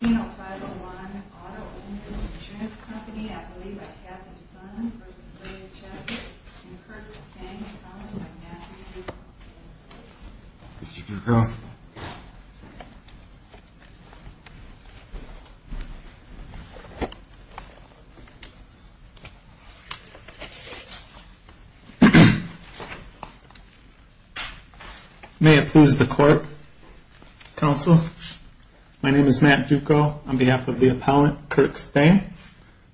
501-Auto-Owners Insurance Company, I believe by Katherine Sons v. J. H. S. and Curtis Stang, co-founded by Matthew Duco. Mr. Duco. May it please the court, counsel. My name is Matt Duco on behalf of the appellant, Curtis Stang.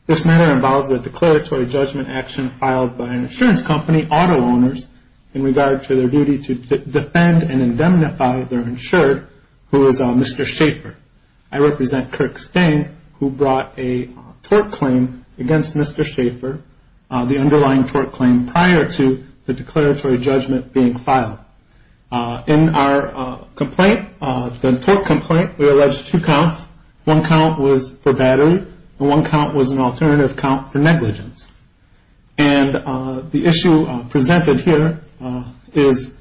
This matter involves a declaratory judgment action filed by an insurance company, Auto-Owners, in regard to their duty to defend and indemnify their insured, who is Mr. Schaefer. I represent Curtis Stang, who brought a tort claim against Mr. Schaefer, the underlying tort claim, prior to the declaratory judgment being filed. In our complaint, the tort complaint, we alleged two counts. One count was for battery and one count was an alternative count for negligence. And the issue presented here is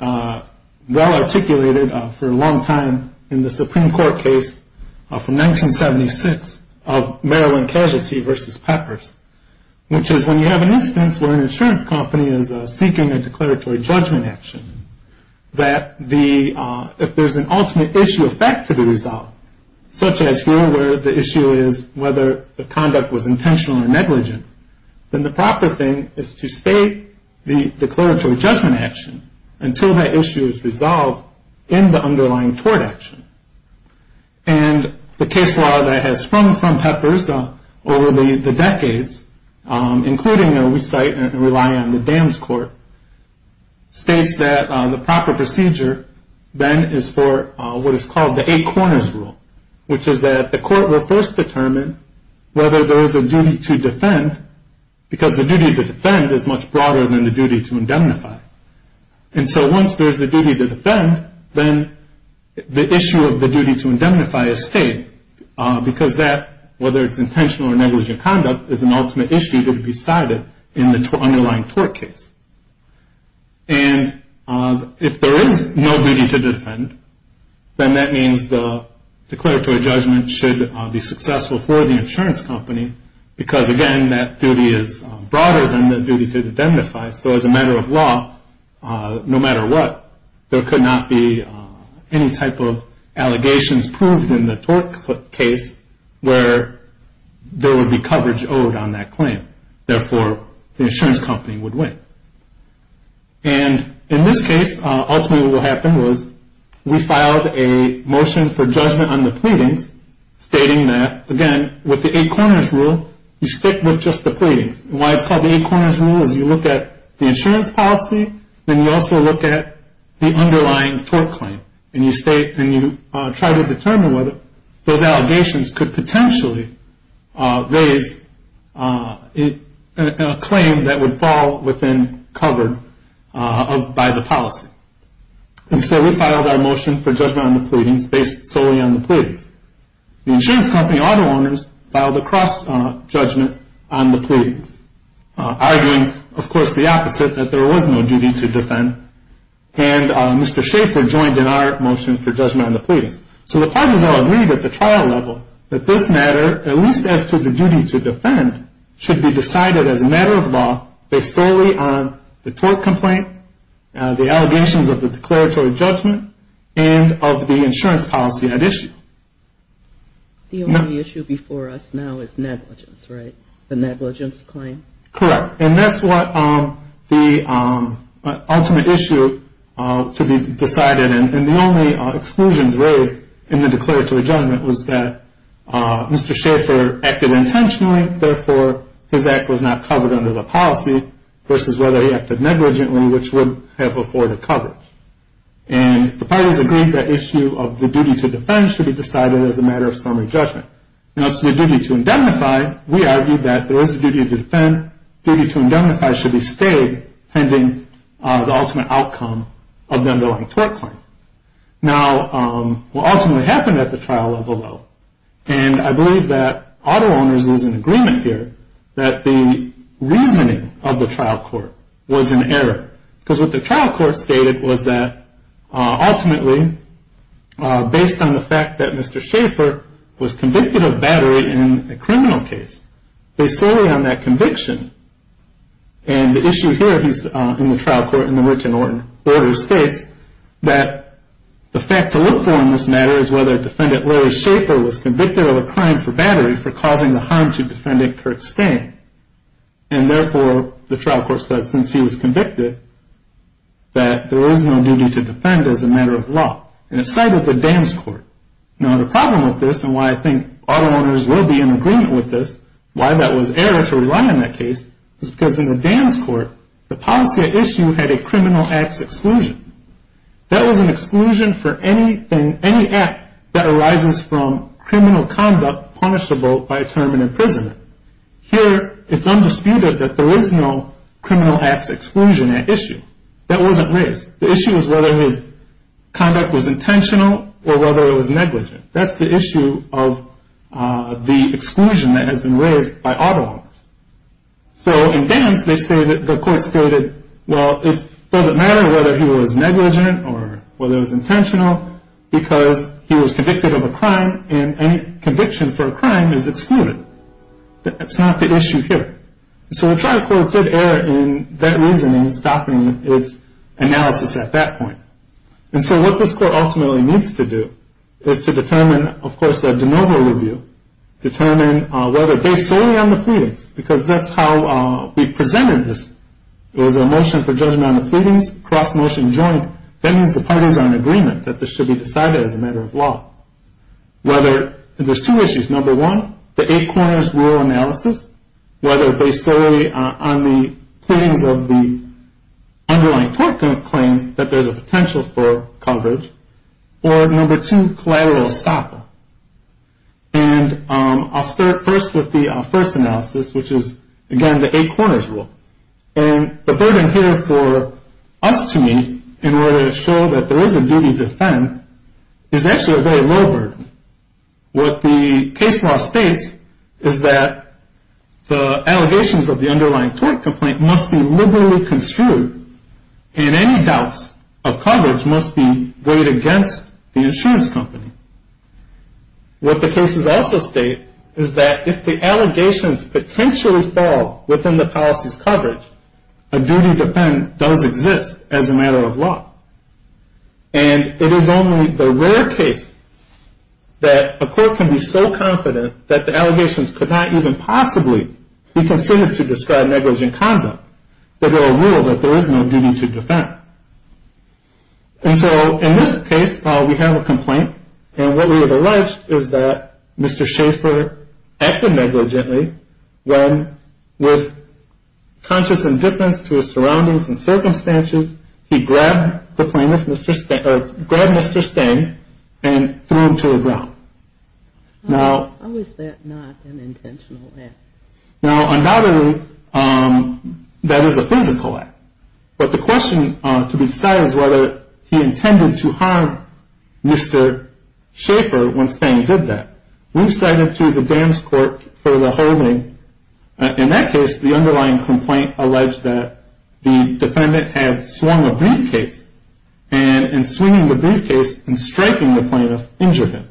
well-articulated for a long time in the Supreme Court case from 1976 of Maryland Casualty v. Peppers, which is when you have an instance where an insurance company is seeking a declaratory judgment action, that if there's an ultimate issue of fact to the result, such as here where the issue is whether the conduct was intentional or negligent, then the proper thing is to state the declaratory judgment action until that issue is resolved in the underlying tort action. And the case law that has sprung from Peppers over the decades, including, we cite and rely on the dams court, states that the proper procedure then is for what is called the eight corners rule, which is that the court will first determine whether there is a duty to defend, because the duty to defend is much broader than the duty to indemnify. And so once there's a duty to defend, then the issue of the duty to indemnify is stated, because that, whether it's intentional or negligent conduct, is an ultimate issue to be cited in the underlying tort case. And if there is no duty to defend, then that means the declaratory judgment should be successful for the insurance company, because, again, that duty is broader than the duty to indemnify. So as a matter of law, no matter what, there could not be any type of allegations proved in the tort case where there would be coverage owed on that claim. Therefore, the insurance company would win. And in this case, ultimately what happened was we filed a motion for judgment on the pleadings, stating that, again, with the eight corners rule, you stick with just the pleadings. And why it's called the eight corners rule is you look at the insurance policy, then you also look at the underlying tort claim, and you try to determine whether those allegations could potentially raise a claim that would fall within cover by the policy. And so we filed our motion for judgment on the pleadings based solely on the pleadings. The insurance company auto owners filed a cross judgment on the pleadings, arguing, of course, the opposite, that there was no duty to defend. And Mr. Schaefer joined in our motion for judgment on the pleadings. So the parties all agreed at the trial level that this matter, at least as to the duty to defend, should be decided as a matter of law based solely on the tort complaint, the allegations of the declaratory judgment, and of the insurance policy at issue. The only issue before us now is negligence, right? The negligence claim? Correct. And that's what the ultimate issue to be decided, and the only exclusions raised in the declaratory judgment was that Mr. Schaefer acted intentionally, therefore his act was not covered under the policy, versus whether he acted negligently, which would have afforded coverage. And the parties agreed that issue of the duty to defend should be decided as a matter of summary judgment. Now, as to the duty to indemnify, we argued that there is a duty to defend. Duty to indemnify should be stayed pending the ultimate outcome of the underlying tort claim. Now, what ultimately happened at the trial level, though, and I believe that auto owners is in agreement here, that the reasoning of the trial court was in error. Because what the trial court stated was that ultimately, based on the fact that Mr. Schaefer was convicted of battery in a criminal case, based solely on that conviction, and the issue here in the trial court in the written order states that the fact to look for in this matter is whether defendant Larry Schaefer was convicted of a crime for battery for causing the harm to defendant Kurt Stang. And therefore, the trial court said since he was convicted, that there is no duty to defend as a matter of law. And it cited the Dan's Court. Now, the problem with this, and why I think auto owners will be in agreement with this, why that was error to rely on that case, is because in the Dan's Court, the policy at issue had a criminal acts exclusion. That was an exclusion for any act that arises from criminal conduct punishable by a term in imprisonment. Here, it's undisputed that there is no criminal acts exclusion at issue. That wasn't raised. The issue is whether his conduct was intentional or whether it was negligent. That's the issue of the exclusion that has been raised by auto owners. So in Dan's, the court stated, well, it doesn't matter whether he was negligent or whether it was intentional, because he was convicted of a crime, and any conviction for a crime is excluded. That's not the issue here. So the trial court did err in that reasoning, stopping its analysis at that point. And so what this court ultimately needs to do is to determine, of course, a de novo review, determine whether based solely on the pleadings, because that's how we presented this. It was a motion for judgment on the pleadings, cross-motion joint. That means the parties are in agreement that this should be decided as a matter of law. Whether there's two issues, number one, the eight corners rule analysis, whether based solely on the pleadings of the underlying court claim that there's a potential for coverage, or number two, collateral estoppel. And I'll start first with the first analysis, which is, again, the eight corners rule. And the burden here for us to meet in order to show that there is a duty to defend is actually a very low burden. What the case law states is that the allegations of the underlying court complaint must be liberally construed, and any doubts of coverage must be weighed against the insurance company. What the cases also state is that if the allegations potentially fall within the policy's coverage, a duty to defend does exist as a matter of law. And it is only the rare case that a court can be so confident that the allegations could not even possibly be considered to describe negligent conduct, that there are rules that there is no duty to defend. And so in this case, we have a complaint, and what we have alleged is that Mr. Schaefer acted negligently when, with conscious indifference to his surroundings and circumstances, he grabbed Mr. Stang and threw him to the ground. How is that not an intentional act? Now, undoubtedly, that is a physical act. But the question to be decided is whether he intended to harm Mr. Schaefer when Stang did that. We've cited to the dams court for the holding. In that case, the underlying complaint alleged that the defendant had swung a briefcase, and in swinging the briefcase and striking the plaintiff, injured him.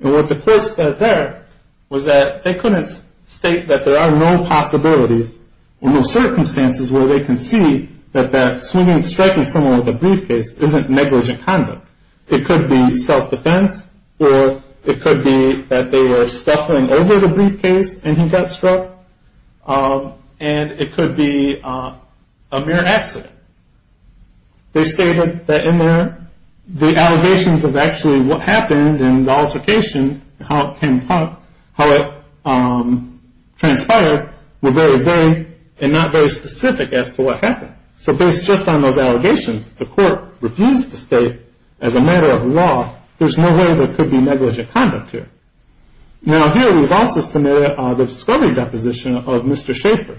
And what the court said there was that they couldn't state that there are no possibilities or no circumstances where they can see that swinging and striking someone with a briefcase isn't negligent conduct. It could be self-defense, or it could be that they were stuffing over the briefcase and he got struck, and it could be a mere accident. They stated that in there, the allegations of actually what happened and the altercation, how it transpired, were very vague and not very specific as to what happened. So based just on those allegations, the court refused to state, as a matter of law, there's no way there could be negligent conduct here. Now, here we've also submitted the discovery deposition of Mr. Schaefer.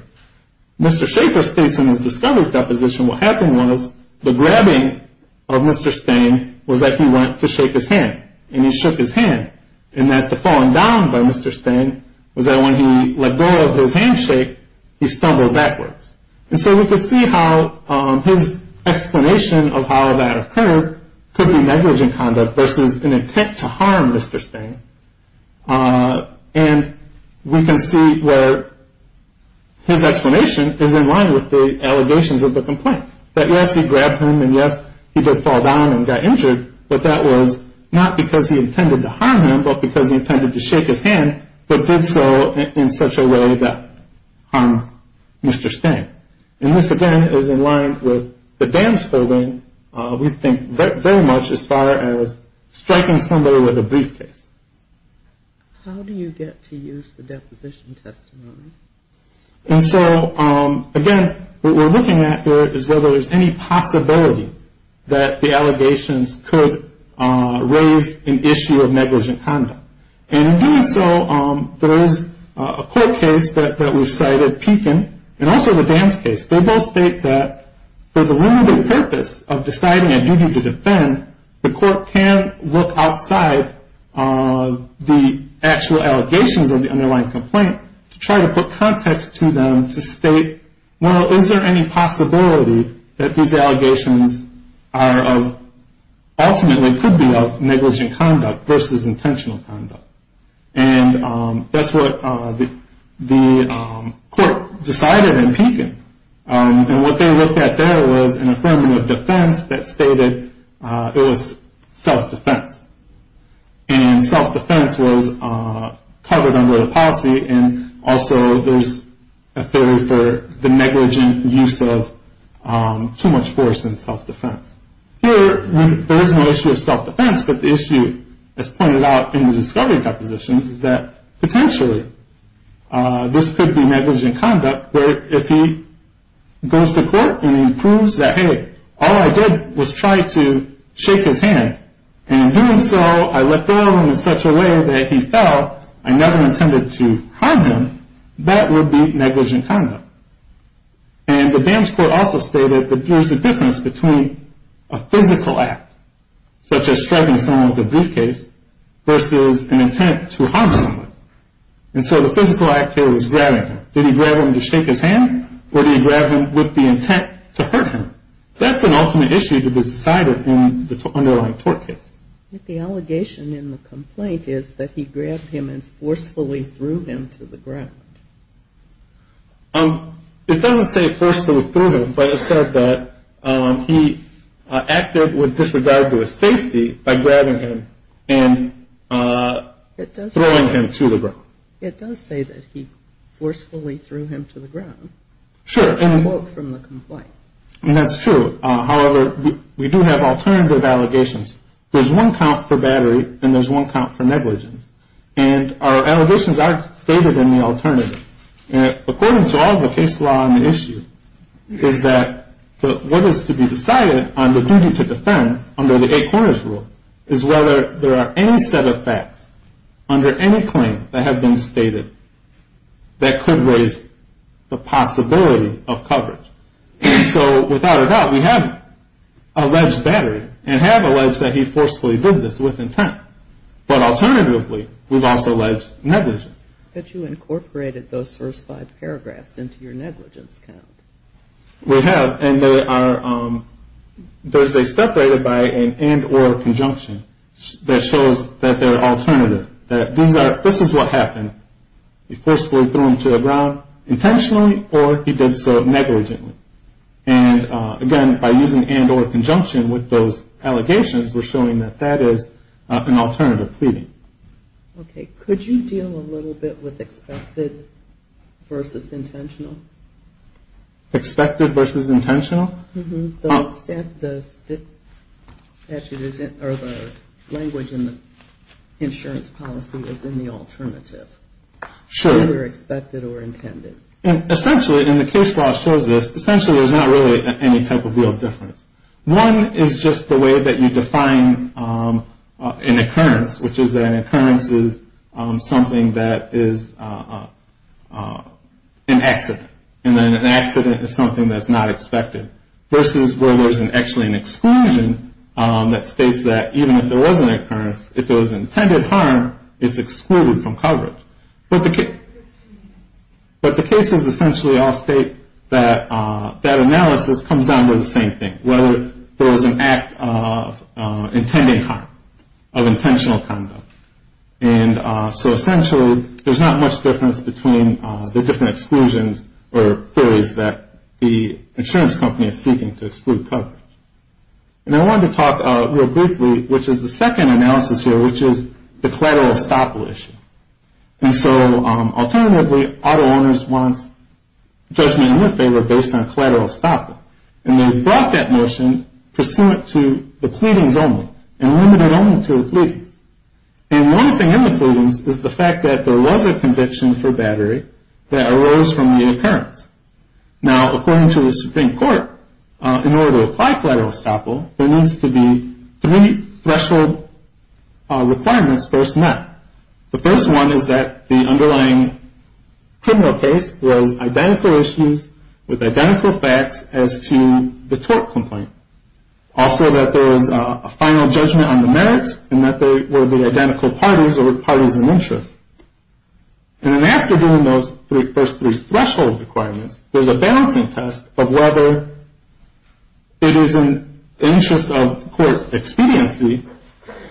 Mr. Schaefer states in his discovery deposition what happened was the grabbing of Mr. Stang was that he went to shake his hand, and he shook his hand, and that the falling down by Mr. Stang was that when he let go of his handshake, he stumbled backwards. And so we can see how his explanation of how that occurred could be negligent conduct versus an intent to harm Mr. Stang. And we can see where his explanation is in line with the allegations of the complaint, that yes, he grabbed him, and yes, he did fall down and got injured, but that was not because he intended to harm him, but because he intended to shake his hand, but did so in such a way that harmed Mr. Stang. And this, again, is in line with the dams building, we think, very much as far as striking somebody with a briefcase. How do you get to use the deposition testimony? And so, again, what we're looking at here is whether there's any possibility that the allegations could raise an issue of negligent conduct. And in doing so, there is a court case that we've cited, Pekin, and also the dams case. They both state that for the limited purpose of deciding a duty to defend, the court can look outside the actual allegations of the underlying complaint to try to put context to them to state, well, is there any possibility that these allegations are of, ultimately could be of negligent conduct versus intentional conduct? And that's what the court decided in Pekin. And what they looked at there was an affirmative defense that stated it was self-defense. And self-defense was covered under the policy, and also there's a theory for the negligent use of too much force in self-defense. Here, there is no issue of self-defense, but the issue, as pointed out in the discovery depositions, is that potentially this could be negligent conduct, where if he goes to court and he proves that, hey, all I did was try to shake his hand, and in doing so, I let go of him in such a way that he fell, I never intended to harm him, that would be negligent conduct. And the dams court also stated that there's a difference between a physical act, such as striking someone with a briefcase, versus an intent to harm someone. And so the physical act is grabbing him. Did he grab him to shake his hand, or did he grab him with the intent to hurt him? That's an ultimate issue to be decided in the underlying tort case. I think the allegation in the complaint is that he grabbed him and forcefully threw him to the ground. It doesn't say forcefully threw him, but it said that he acted with disregard to his safety by grabbing him and throwing him to the ground. It does say that he forcefully threw him to the ground. Sure, and that's true. However, we do have alternative allegations. There's one count for battery, and there's one count for negligence. And our allegations are stated in the alternative. According to all the case law on the issue, is that what is to be decided on the duty to defend under the eight corners rule is whether there are any set of facts under any claim that have been stated that could raise the possibility of coverage. So, without a doubt, we have alleged battery, and have alleged that he forcefully did this with intent. But alternatively, we've also alleged negligence. But you incorporated those first five paragraphs into your negligence count. We have, and they are separated by an and or conjunction that shows that they're alternative. That this is what happened. He forcefully threw him to the ground intentionally, or he did so negligently. And, again, by using and or conjunction with those allegations, we're showing that that is an alternative pleading. Okay. Could you deal a little bit with expected versus intentional? Expected versus intentional? The language in the insurance policy is in the alternative. Sure. Either expected or intended. Essentially, and the case law shows this, essentially there's not really any type of real difference. One is just the way that you define an occurrence, which is that an occurrence is something that is an accident. And then an accident is something that's not expected. Versus where there's actually an exclusion that states that even if there was an occurrence, if there was intended harm, it's excluded from coverage. But the cases essentially all state that that analysis comes down to the same thing. Whether there was an act of intending harm, of intentional conduct. And so, essentially, there's not much difference between the different exclusions or theories that the insurance company is seeking to exclude coverage. And I wanted to talk real briefly, which is the second analysis here, which is the collateral estoppel issue. And so, alternatively, auto owners want judgment in their favor based on collateral estoppel. And they brought that notion pursuant to the pleadings only. And limited only to the pleadings. And one thing in the pleadings is the fact that there was a conviction for battery that arose from the occurrence. Now, according to the Supreme Court, in order to apply collateral estoppel, there needs to be three threshold requirements first met. The first one is that the underlying criminal case was identical issues with identical facts as to the tort complaint. Also that there was a final judgment on the merits and that there would be identical parties or parties of interest. And then after doing those first three threshold requirements, there's a balancing test of whether it is in the interest of court expediency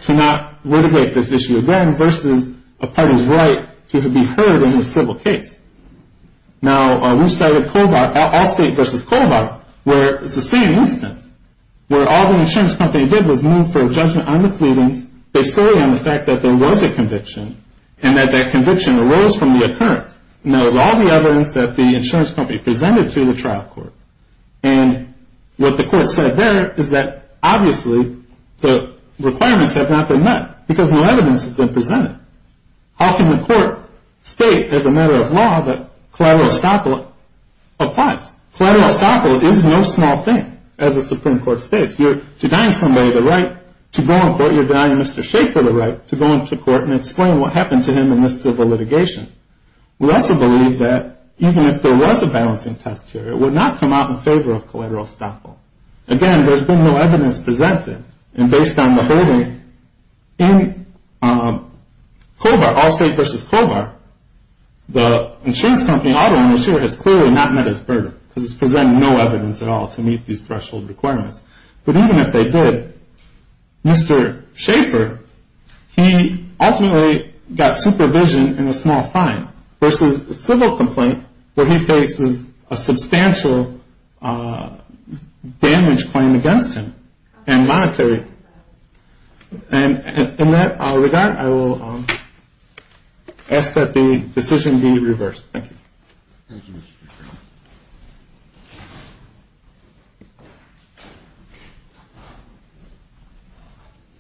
to not litigate this issue again versus a party's right to be heard in a civil case. Now, we started Allstate v. Colvard where it's the same instance, where all the insurance company did was move for a judgment on the pleadings based solely on the fact that there was a conviction and that that conviction arose from the occurrence. And that was all the evidence that the insurance company presented to the trial court. And what the court said there is that obviously the requirements have not been met because no evidence has been presented. How can the court state as a matter of law that collateral estoppel applies? Collateral estoppel is no small thing as the Supreme Court states. You're denying somebody the right to go in court. You're denying Mr. Schaefer the right to go into court and explain what happened to him in the civil litigation. We also believe that even if there was a balancing test here, it would not come out in favor of collateral estoppel. Again, there's been no evidence presented. And based on the holding in Colvard, Allstate v. Colvard, the insurance company auto owners here has clearly not met its burden because it's presented no evidence at all to meet these threshold requirements. But even if they did, Mr. Schaefer, he ultimately got supervision in a small fine versus a civil complaint where he faces a substantial damage claim against him and monetary. And in that regard, I will ask that the decision be reversed. Thank you.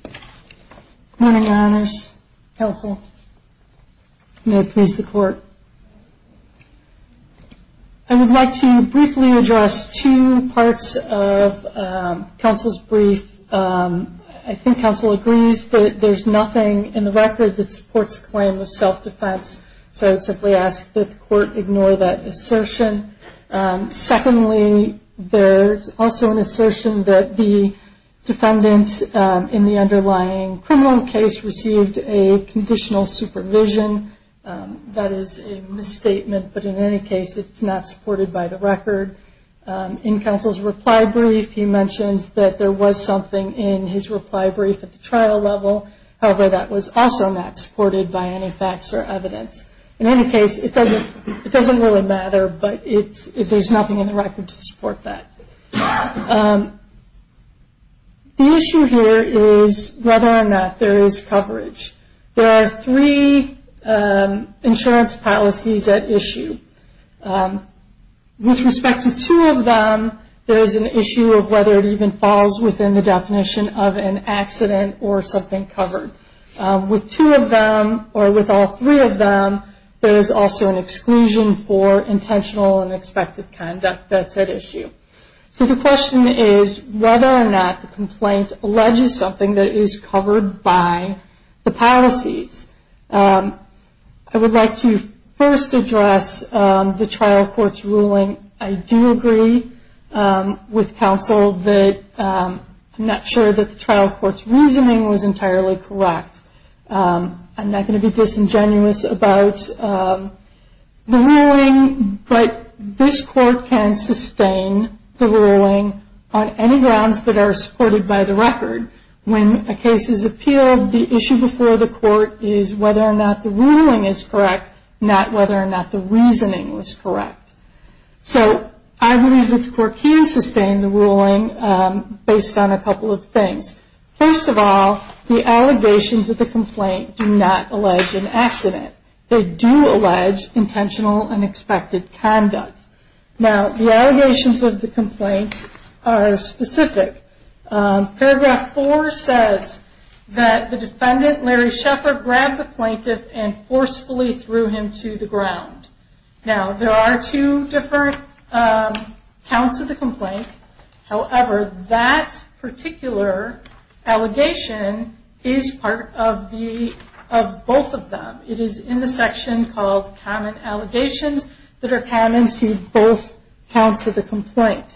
Good morning, Your Honors. Counsel. May it please the Court. I would like to briefly address two parts of counsel's brief. I think counsel agrees that there's nothing in the record that supports a claim of self-defense, so I would simply ask that the Court ignore that assertion. Secondly, there's also an assertion that the defendant in the underlying criminal case received a conditional supervision. That is a misstatement, but in any case, it's not supported by the record. In counsel's reply brief, he mentions that there was something in his reply brief at the trial level. However, that was also not supported by any facts or evidence. In any case, it doesn't really matter, but there's nothing in the record to support that. The issue here is whether or not there is coverage. There are three insurance policies at issue. With respect to two of them, there is an issue of whether it even falls within the definition of an accident or something covered. With two of them, or with all three of them, there is also an exclusion for intentional and expected conduct that's at issue. So the question is whether or not the complaint alleges something that is covered by the policies. I would like to first address the trial court's ruling. I do agree with counsel that I'm not sure that the trial court's reasoning was entirely correct. I'm not going to be disingenuous about the ruling, but this court can sustain the ruling on any grounds that are supported by the record. When a case is appealed, the issue before the court is whether or not the ruling is correct, not whether or not the reasoning was correct. So I believe that the court can sustain the ruling based on a couple of things. First of all, the allegations of the complaint do not allege an accident. They do allege intentional and expected conduct. Now, the allegations of the complaint are specific. Paragraph four says that the defendant, Larry Sheffler, grabbed the plaintiff and forcefully threw him to the ground. Now, there are two different counts of the complaint. However, that particular allegation is part of both of them. It is in the section called Common Allegations that are common to both counts of the complaint.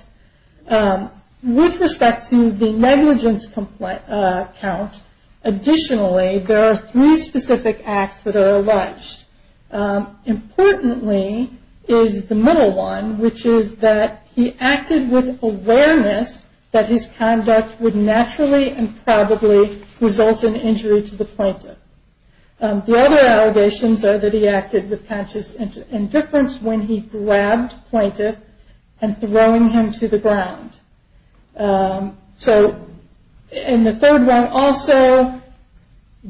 With respect to the negligence count, additionally, there are three specific acts that are alleged. Importantly is the middle one, which is that he acted with awareness that his conduct would naturally and probably result in injury to the plaintiff. The other allegations are that he acted with conscious indifference when he grabbed plaintiff and throwing him to the ground. The third one also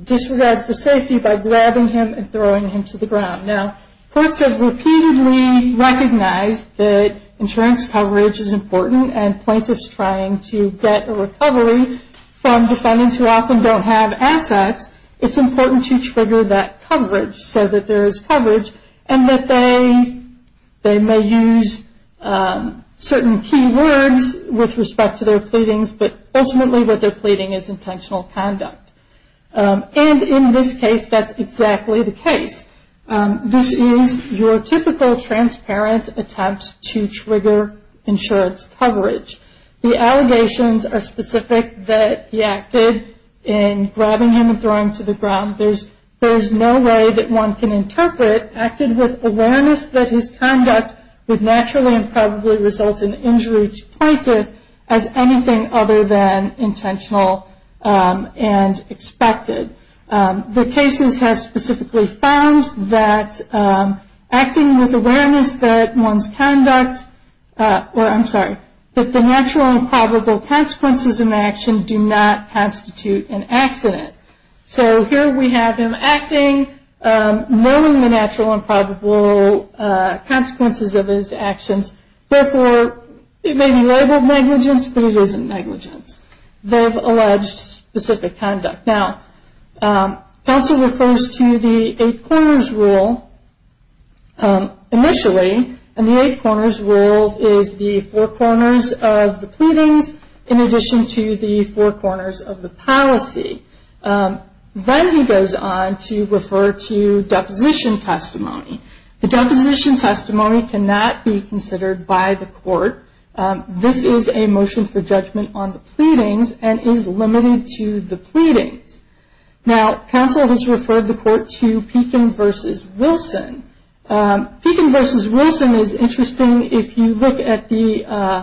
disregards the safety by grabbing him and throwing him to the ground. Now, courts have repeatedly recognized that insurance coverage is important and plaintiffs trying to get a recovery from defendants who often don't have assets, it's important to trigger that coverage so that there is coverage and that they may use certain key words with respect to their pleadings, but ultimately what they're pleading is intentional conduct. And in this case, that's exactly the case. This is your typical transparent attempt to trigger insurance coverage. The allegations are specific that he acted in grabbing him and throwing him to the ground. There's no way that one can interpret acted with awareness that his conduct would naturally and probably result in injury to the plaintiff as anything other than intentional and expected. The cases have specifically found that acting with awareness that one's conduct, or I'm sorry, that the natural and probable consequences of an action do not constitute an accident. So here we have him acting, knowing the natural and probable consequences of his actions, therefore it may be labeled negligence, but it isn't negligence. They've alleged specific conduct. Now, counsel refers to the eight corners rule initially, and the eight corners rule is the four corners of the pleadings in addition to the four corners of the policy. Then he goes on to refer to deposition testimony. The deposition testimony cannot be considered by the court. This is a motion for judgment on the pleadings and is limited to the pleadings. Now, counsel has referred the court to Pekin v. Wilson. Pekin v. Wilson is interesting if you look at the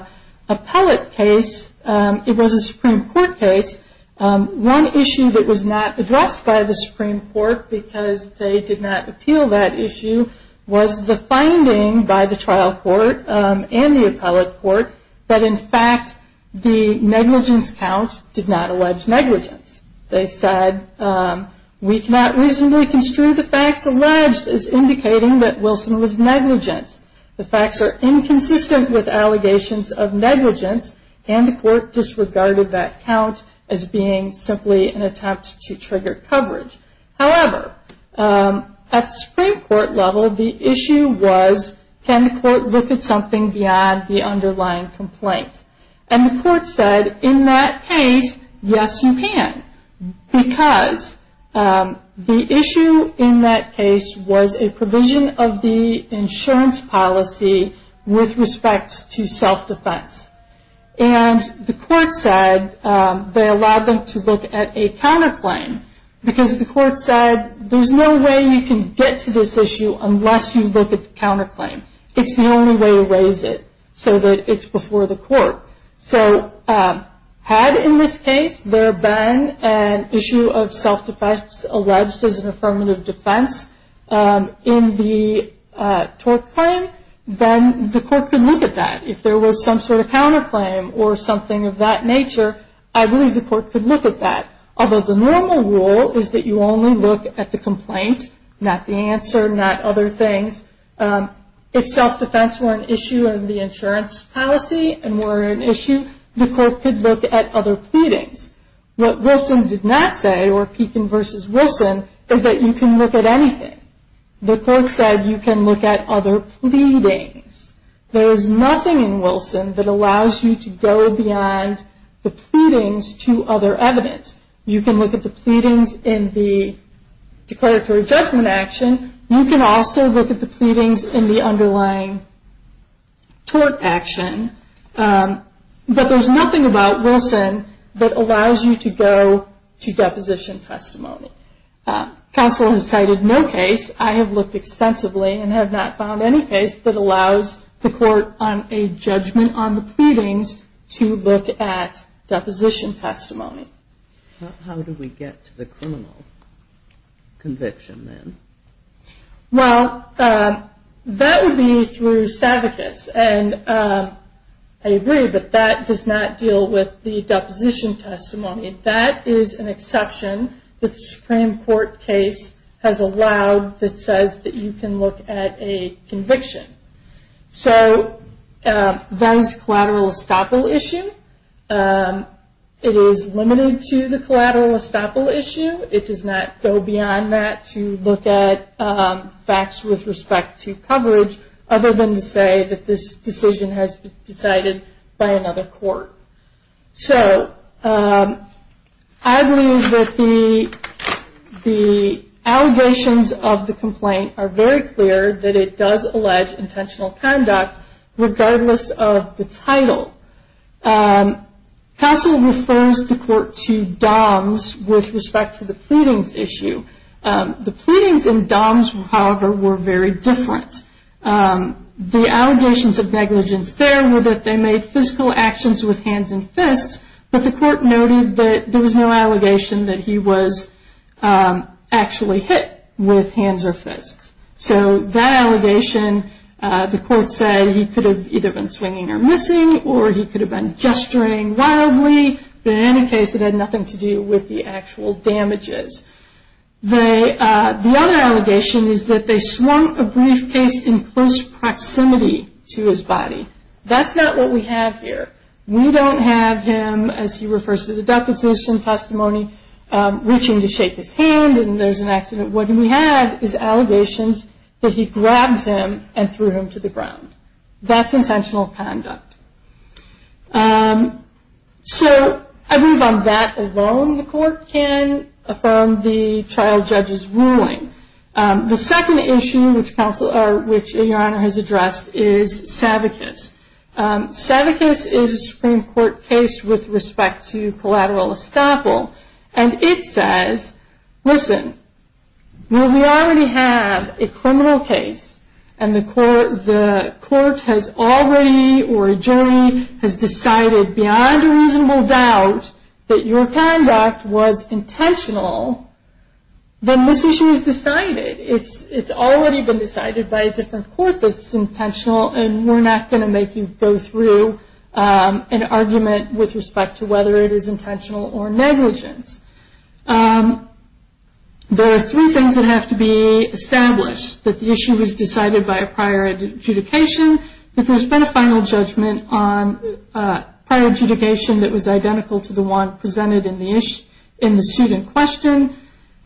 appellate case. It was a Supreme Court case. One issue that was not addressed by the Supreme Court because they did not appeal that issue was the finding by the trial court and the appellate court that, in fact, the negligence count did not allege negligence. They said, we cannot reasonably construe the facts alleged as indicating that Wilson was negligent. The facts are inconsistent with allegations of negligence, and the court disregarded that count as being simply an attempt to trigger coverage. However, at the Supreme Court level, the issue was, can the court look at something beyond the underlying complaint? And the court said, in that case, yes, you can, because the issue in that case was a provision of the insurance policy with respect to self-defense. And the court said they allowed them to look at a counterclaim because the court said, there's no way you can get to this issue unless you look at the counterclaim. It's the only way to raise it so that it's before the court. So had, in this case, there been an issue of self-defense alleged as an affirmative defense in the TORC claim, then the court could look at that. If there was some sort of counterclaim or something of that nature, I believe the court could look at that. Although the normal rule is that you only look at the complaint, not the answer, not other things. If self-defense were an issue in the insurance policy and were an issue, the court could look at other pleadings. What Wilson did not say, or Pekin versus Wilson, is that you can look at anything. The court said you can look at other pleadings. There is nothing in Wilson that allows you to go beyond the pleadings to other evidence. You can look at the pleadings in the declaratory judgment action. You can also look at the pleadings in the underlying TORC action. But there's nothing about Wilson that allows you to go to deposition testimony. Counsel has cited no case. I have looked extensively and have not found any case that allows the court on a judgment on the pleadings to look at deposition testimony. How do we get to the criminal conviction then? Well, that would be through Savickas. And I agree, but that does not deal with the deposition testimony. That is an exception that the Supreme Court case has allowed that says that you can look at a conviction. So, that is a collateral estoppel issue. It is limited to the collateral estoppel issue. It does not go beyond that to look at facts with respect to coverage, other than to say that this decision has been decided by another court. So, I believe that the allegations of the complaint are very clear that it does allege intentional conduct, regardless of the title. Counsel refers the court to DOMS with respect to the pleadings issue. The pleadings in DOMS, however, were very different. The allegations of negligence there were that they made physical actions with hands and fists, but the court noted that there was no allegation that he was actually hit with hands or fists. So, that allegation, the court said he could have either been swinging or missing, or he could have been gesturing wildly. But in any case, it had nothing to do with the actual damages. The other allegation is that they swung a briefcase in close proximity to his body. That's not what we have here. We don't have him, as he refers to the deposition testimony, reaching to shake his hand and there's an accident. What we have is allegations that he grabs him and threw him to the ground. That's intentional conduct. So, I believe on that alone, the court can affirm the trial judge's ruling. The second issue, which your Honor has addressed, is Savickas. Savickas is a Supreme Court case with respect to collateral estoppel. And it says, listen, when we already have a criminal case and the court has already, or a jury, has decided beyond a reasonable doubt that your conduct was intentional, then this issue is decided. It's already been decided by a different court that it's intentional, and we're not going to make you go through an argument with respect to whether it is intentional or negligence. There are three things that have to be established, that the issue was decided by a prior adjudication, that there's been a final judgment on prior adjudication that was identical to the one presented in the suit in question,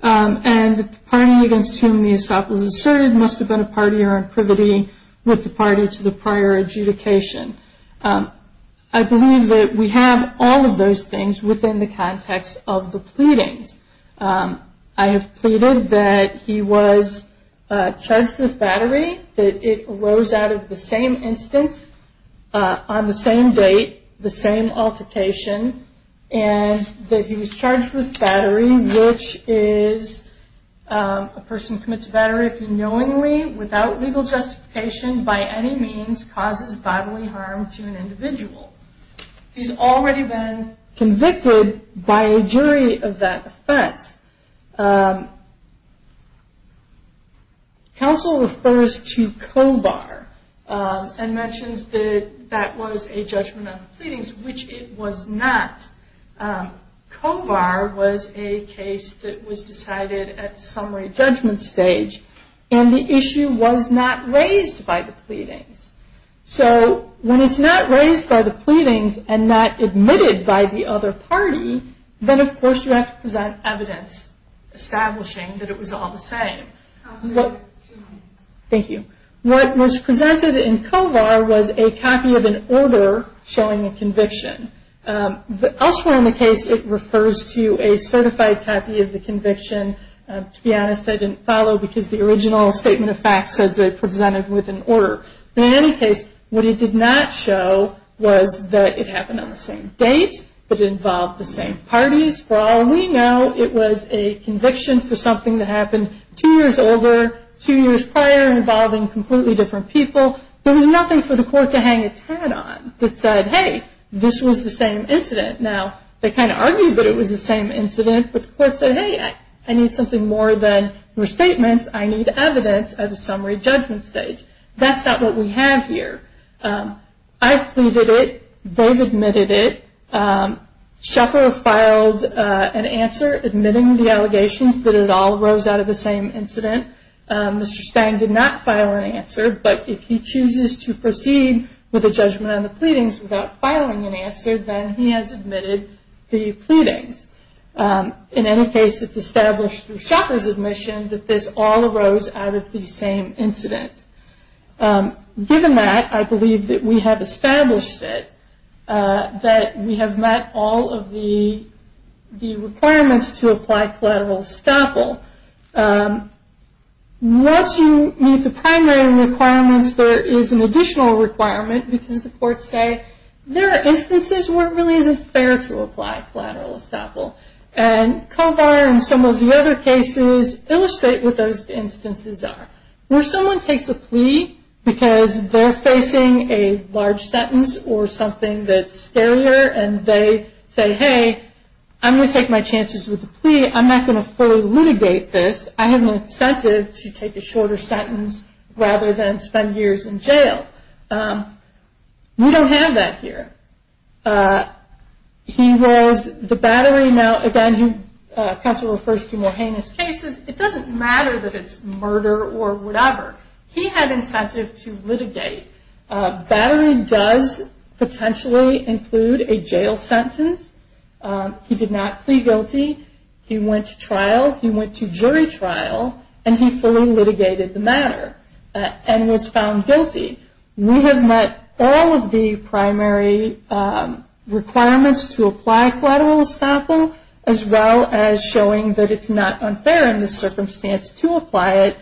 and that the party against whom the estoppel was asserted must have been a party or in privity with the party to the prior adjudication. I believe that we have all of those things within the context of the pleadings. I have pleaded that he was charged with battery, that it arose out of the same instance, on the same date, the same altercation, and that he was charged with battery, which is a person commits battery unknowingly, without legal justification, by any means causes bodily harm to an individual. He's already been convicted by a jury of that offense. Counsel refers to COBAR and mentions that that was a judgment on the pleadings, which it was not. COBAR was a case that was decided at the summary judgment stage, and the issue was not raised by the pleadings. So, when it's not raised by the pleadings and not admitted by the other party, then of course you have to present evidence establishing that it was all the same. Thank you. What was presented in COBAR was a copy of an order showing a conviction. Elsewhere in the case, it refers to a certified copy of the conviction. To be honest, I didn't follow because the original statement of facts says it presented with an order. But in any case, what it did not show was that it happened on the same date, that it involved the same parties. For all we know, it was a conviction for something that happened two years over, two years prior, involving completely different people. There was nothing for the court to hang its hat on that said, hey, this was the same incident. Now, they kind of argued that it was the same incident, but the court said, hey, I need something more than your statements. I need evidence at a summary judgment stage. That's not what we have here. I've pleaded it. They've admitted it. Shuffler filed an answer admitting the allegations that it all arose out of the same incident. Mr. Stang did not file an answer, but if he chooses to proceed with a judgment on the pleadings without filing an answer, then he has admitted the pleadings. In any case, it's established through Shuffler's admission that this all arose out of the same incident. Given that, I believe that we have established it, that we have met all of the requirements to apply collateral estoppel. Once you meet the primary requirements, there is an additional requirement, because the courts say there are instances where it really isn't fair to apply collateral estoppel. And Kovar and some of the other cases illustrate what those instances are. Where someone takes a plea because they're facing a large sentence or something that's scarier, and they say, hey, I'm going to take my chances with the plea. I'm not going to fully litigate this. I have an incentive to take a shorter sentence rather than spend years in jail. We don't have that here. He was the battery. Now, again, counsel refers to more heinous cases. It doesn't matter that it's murder or whatever. He had incentive to litigate. Battery does potentially include a jail sentence. He did not plea guilty. He went to trial. He went to jury trial, and he fully litigated the matter and was found guilty. We have met all of the primary requirements to apply collateral estoppel, as well as showing that it's not unfair in this circumstance to apply it.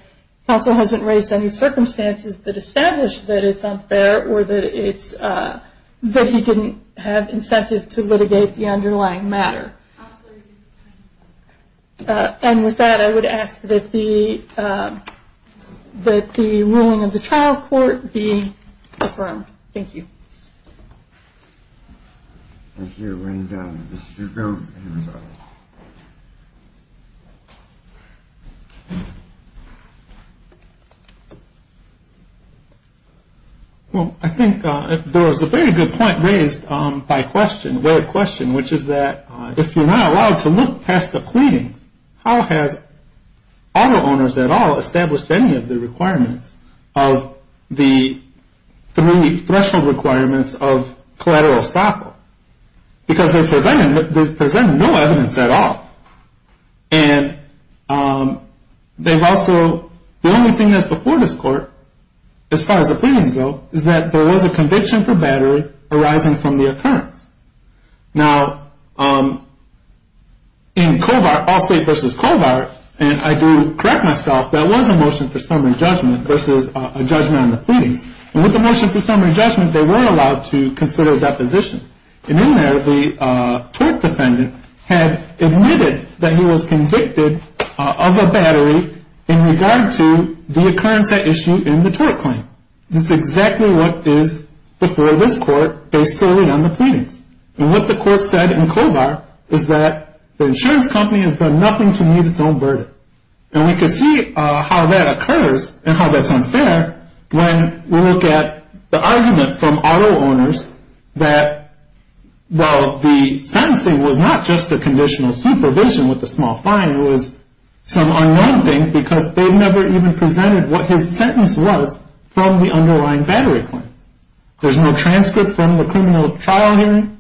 Counsel hasn't raised any circumstances that establish that it's unfair or that he didn't have incentive to litigate the underlying matter. And with that, I would ask that the ruling of the trial court be affirmed. Thank you. Thank you. And Mr. Gump, anybody? Well, I think there was a very good point raised by question, which is that if you're not allowed to look past the pleadings, how has auto owners at all established any of the requirements of the three threshold requirements of collateral estoppel? Because they're presenting no evidence at all. And they've also the only thing that's before this court, as far as the pleadings go, is that there was a conviction for battery arising from the occurrence. Now, in Covart, Allstate versus Covart, and I do correct myself, that was a motion for summary judgment versus a judgment on the pleadings. And with the motion for summary judgment, they were allowed to consider depositions. And in there, the TORC defendant had admitted that he was convicted of a battery in regard to the occurrence at issue in the TORC claim. This is exactly what is before this court based solely on the pleadings. And what the court said in Covart is that the insurance company has done nothing to meet its own burden. And we can see how that occurs and how that's unfair when we look at the argument from auto owners that while the sentencing was not just a conditional supervision with a small fine, it was some unknown thing because they never even presented what his sentence was from the underlying battery claim. There's no transcript from the criminal trial hearing.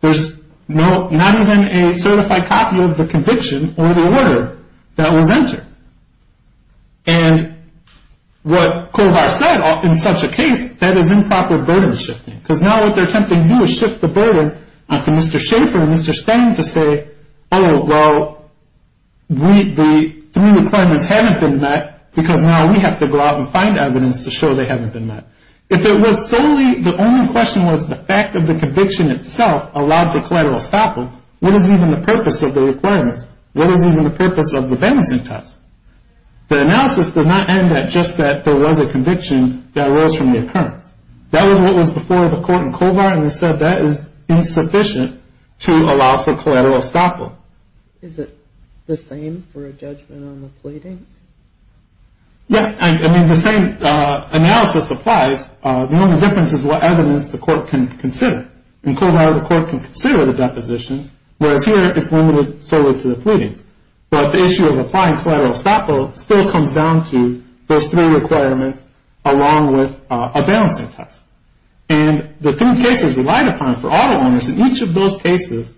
There's not even a certified copy of the conviction or the order that was entered. And what Covart said in such a case, that is improper burden shifting because now what they're attempting to do is shift the burden onto Mr. Schaffer and Mr. Stang to say, oh, well, the three requirements haven't been met because now we have to go out and find evidence to show they haven't been met. If it was solely, the only question was the fact of the conviction itself allowed for collateral estoppel, what is even the purpose of the requirements? What is even the purpose of the vengeance test? The analysis does not end at just that there was a conviction that arose from the occurrence. That was what was before the court in Covart and they said that is insufficient to allow for collateral estoppel. Is it the same for a judgment on the pleadings? Yeah. I mean, the same analysis applies. The only difference is what evidence the court can consider. In Covart, the court can consider the depositions, whereas here it's limited solely to the pleadings. But the issue of applying collateral estoppel still comes down to those three requirements along with a balancing test. And the three cases relied upon for auto owners in each of those cases,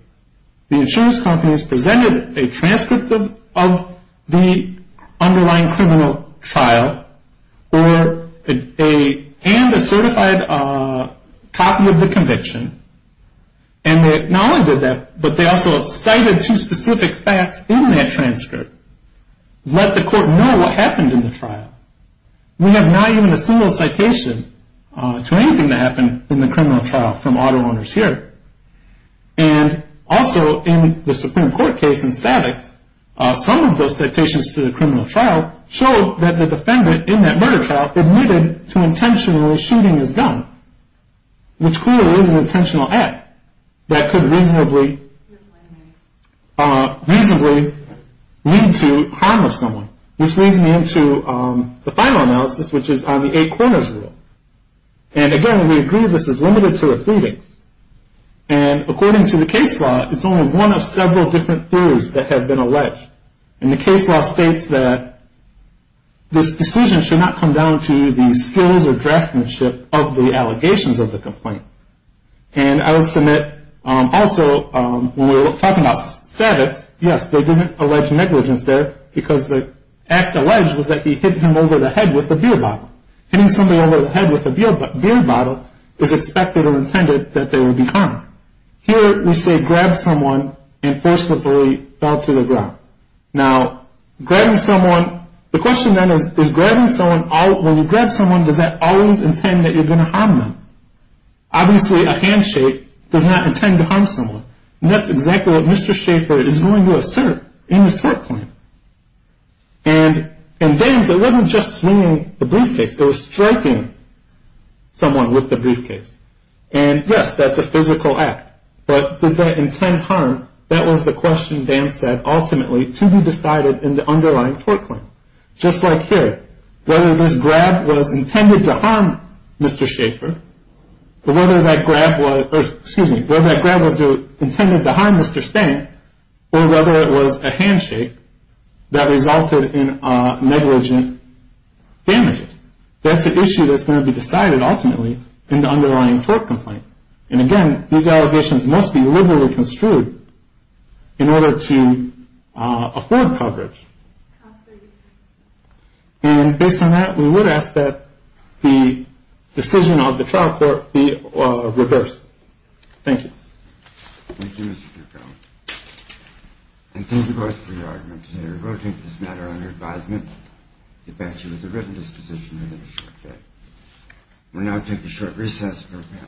the insurance companies presented a transcript of the underlying criminal trial and a certified copy of the conviction, and they not only did that, but they also cited two specific facts in that transcript, let the court know what happened in the trial. We have not given a single citation to anything that happened in the criminal trial from auto owners here. And also in the Supreme Court case in Savicks, some of those citations to the criminal trial show that the defendant in that murder trial admitted to intentionally shooting his gun, which clearly is an intentional act that could reasonably lead to harm of someone, which leads me into the final analysis, which is on the eight corners rule. And again, we agree this is limited to the pleadings. And according to the case law, it's only one of several different theories that have been alleged. And the case law states that this decision should not come down to the skills or draftsmanship of the allegations of the complaint. And I will submit also when we're talking about Savicks, yes, they didn't allege negligence there because the act alleged was that he hit him over the head with a beer bottle. Hitting somebody over the head with a beer bottle is expected or intended that they would be harmed. Here we say grab someone and forcibly fell to the ground. Now, grabbing someone, the question then is grabbing someone, when you grab someone, does that always intend that you're going to harm them? Obviously a handshake does not intend to harm someone. And that's exactly what Mr. Schaffer is going to assert in his tort claim. And Vance, it wasn't just swinging the briefcase. It was striking someone with the briefcase. And yes, that's a physical act. But did that intend harm? That was the question Vance said ultimately to be decided in the underlying tort claim. Just like here, whether this grab was intended to harm Mr. Schaffer, or whether that grab was intended to harm Mr. Stank, or whether it was a handshake that resulted in negligent damages. That's an issue that's going to be decided ultimately in the underlying tort complaint. And again, these allegations must be liberally construed in order to afford coverage. And based on that, we would ask that the decision of the trial court be reversed. Thank you. Thank you, Mr. Dugdale. And thank you both for your arguments here. We'll take this matter under advisement. The abache was a written disposition within a short period. We'll now take a short recess for a panel.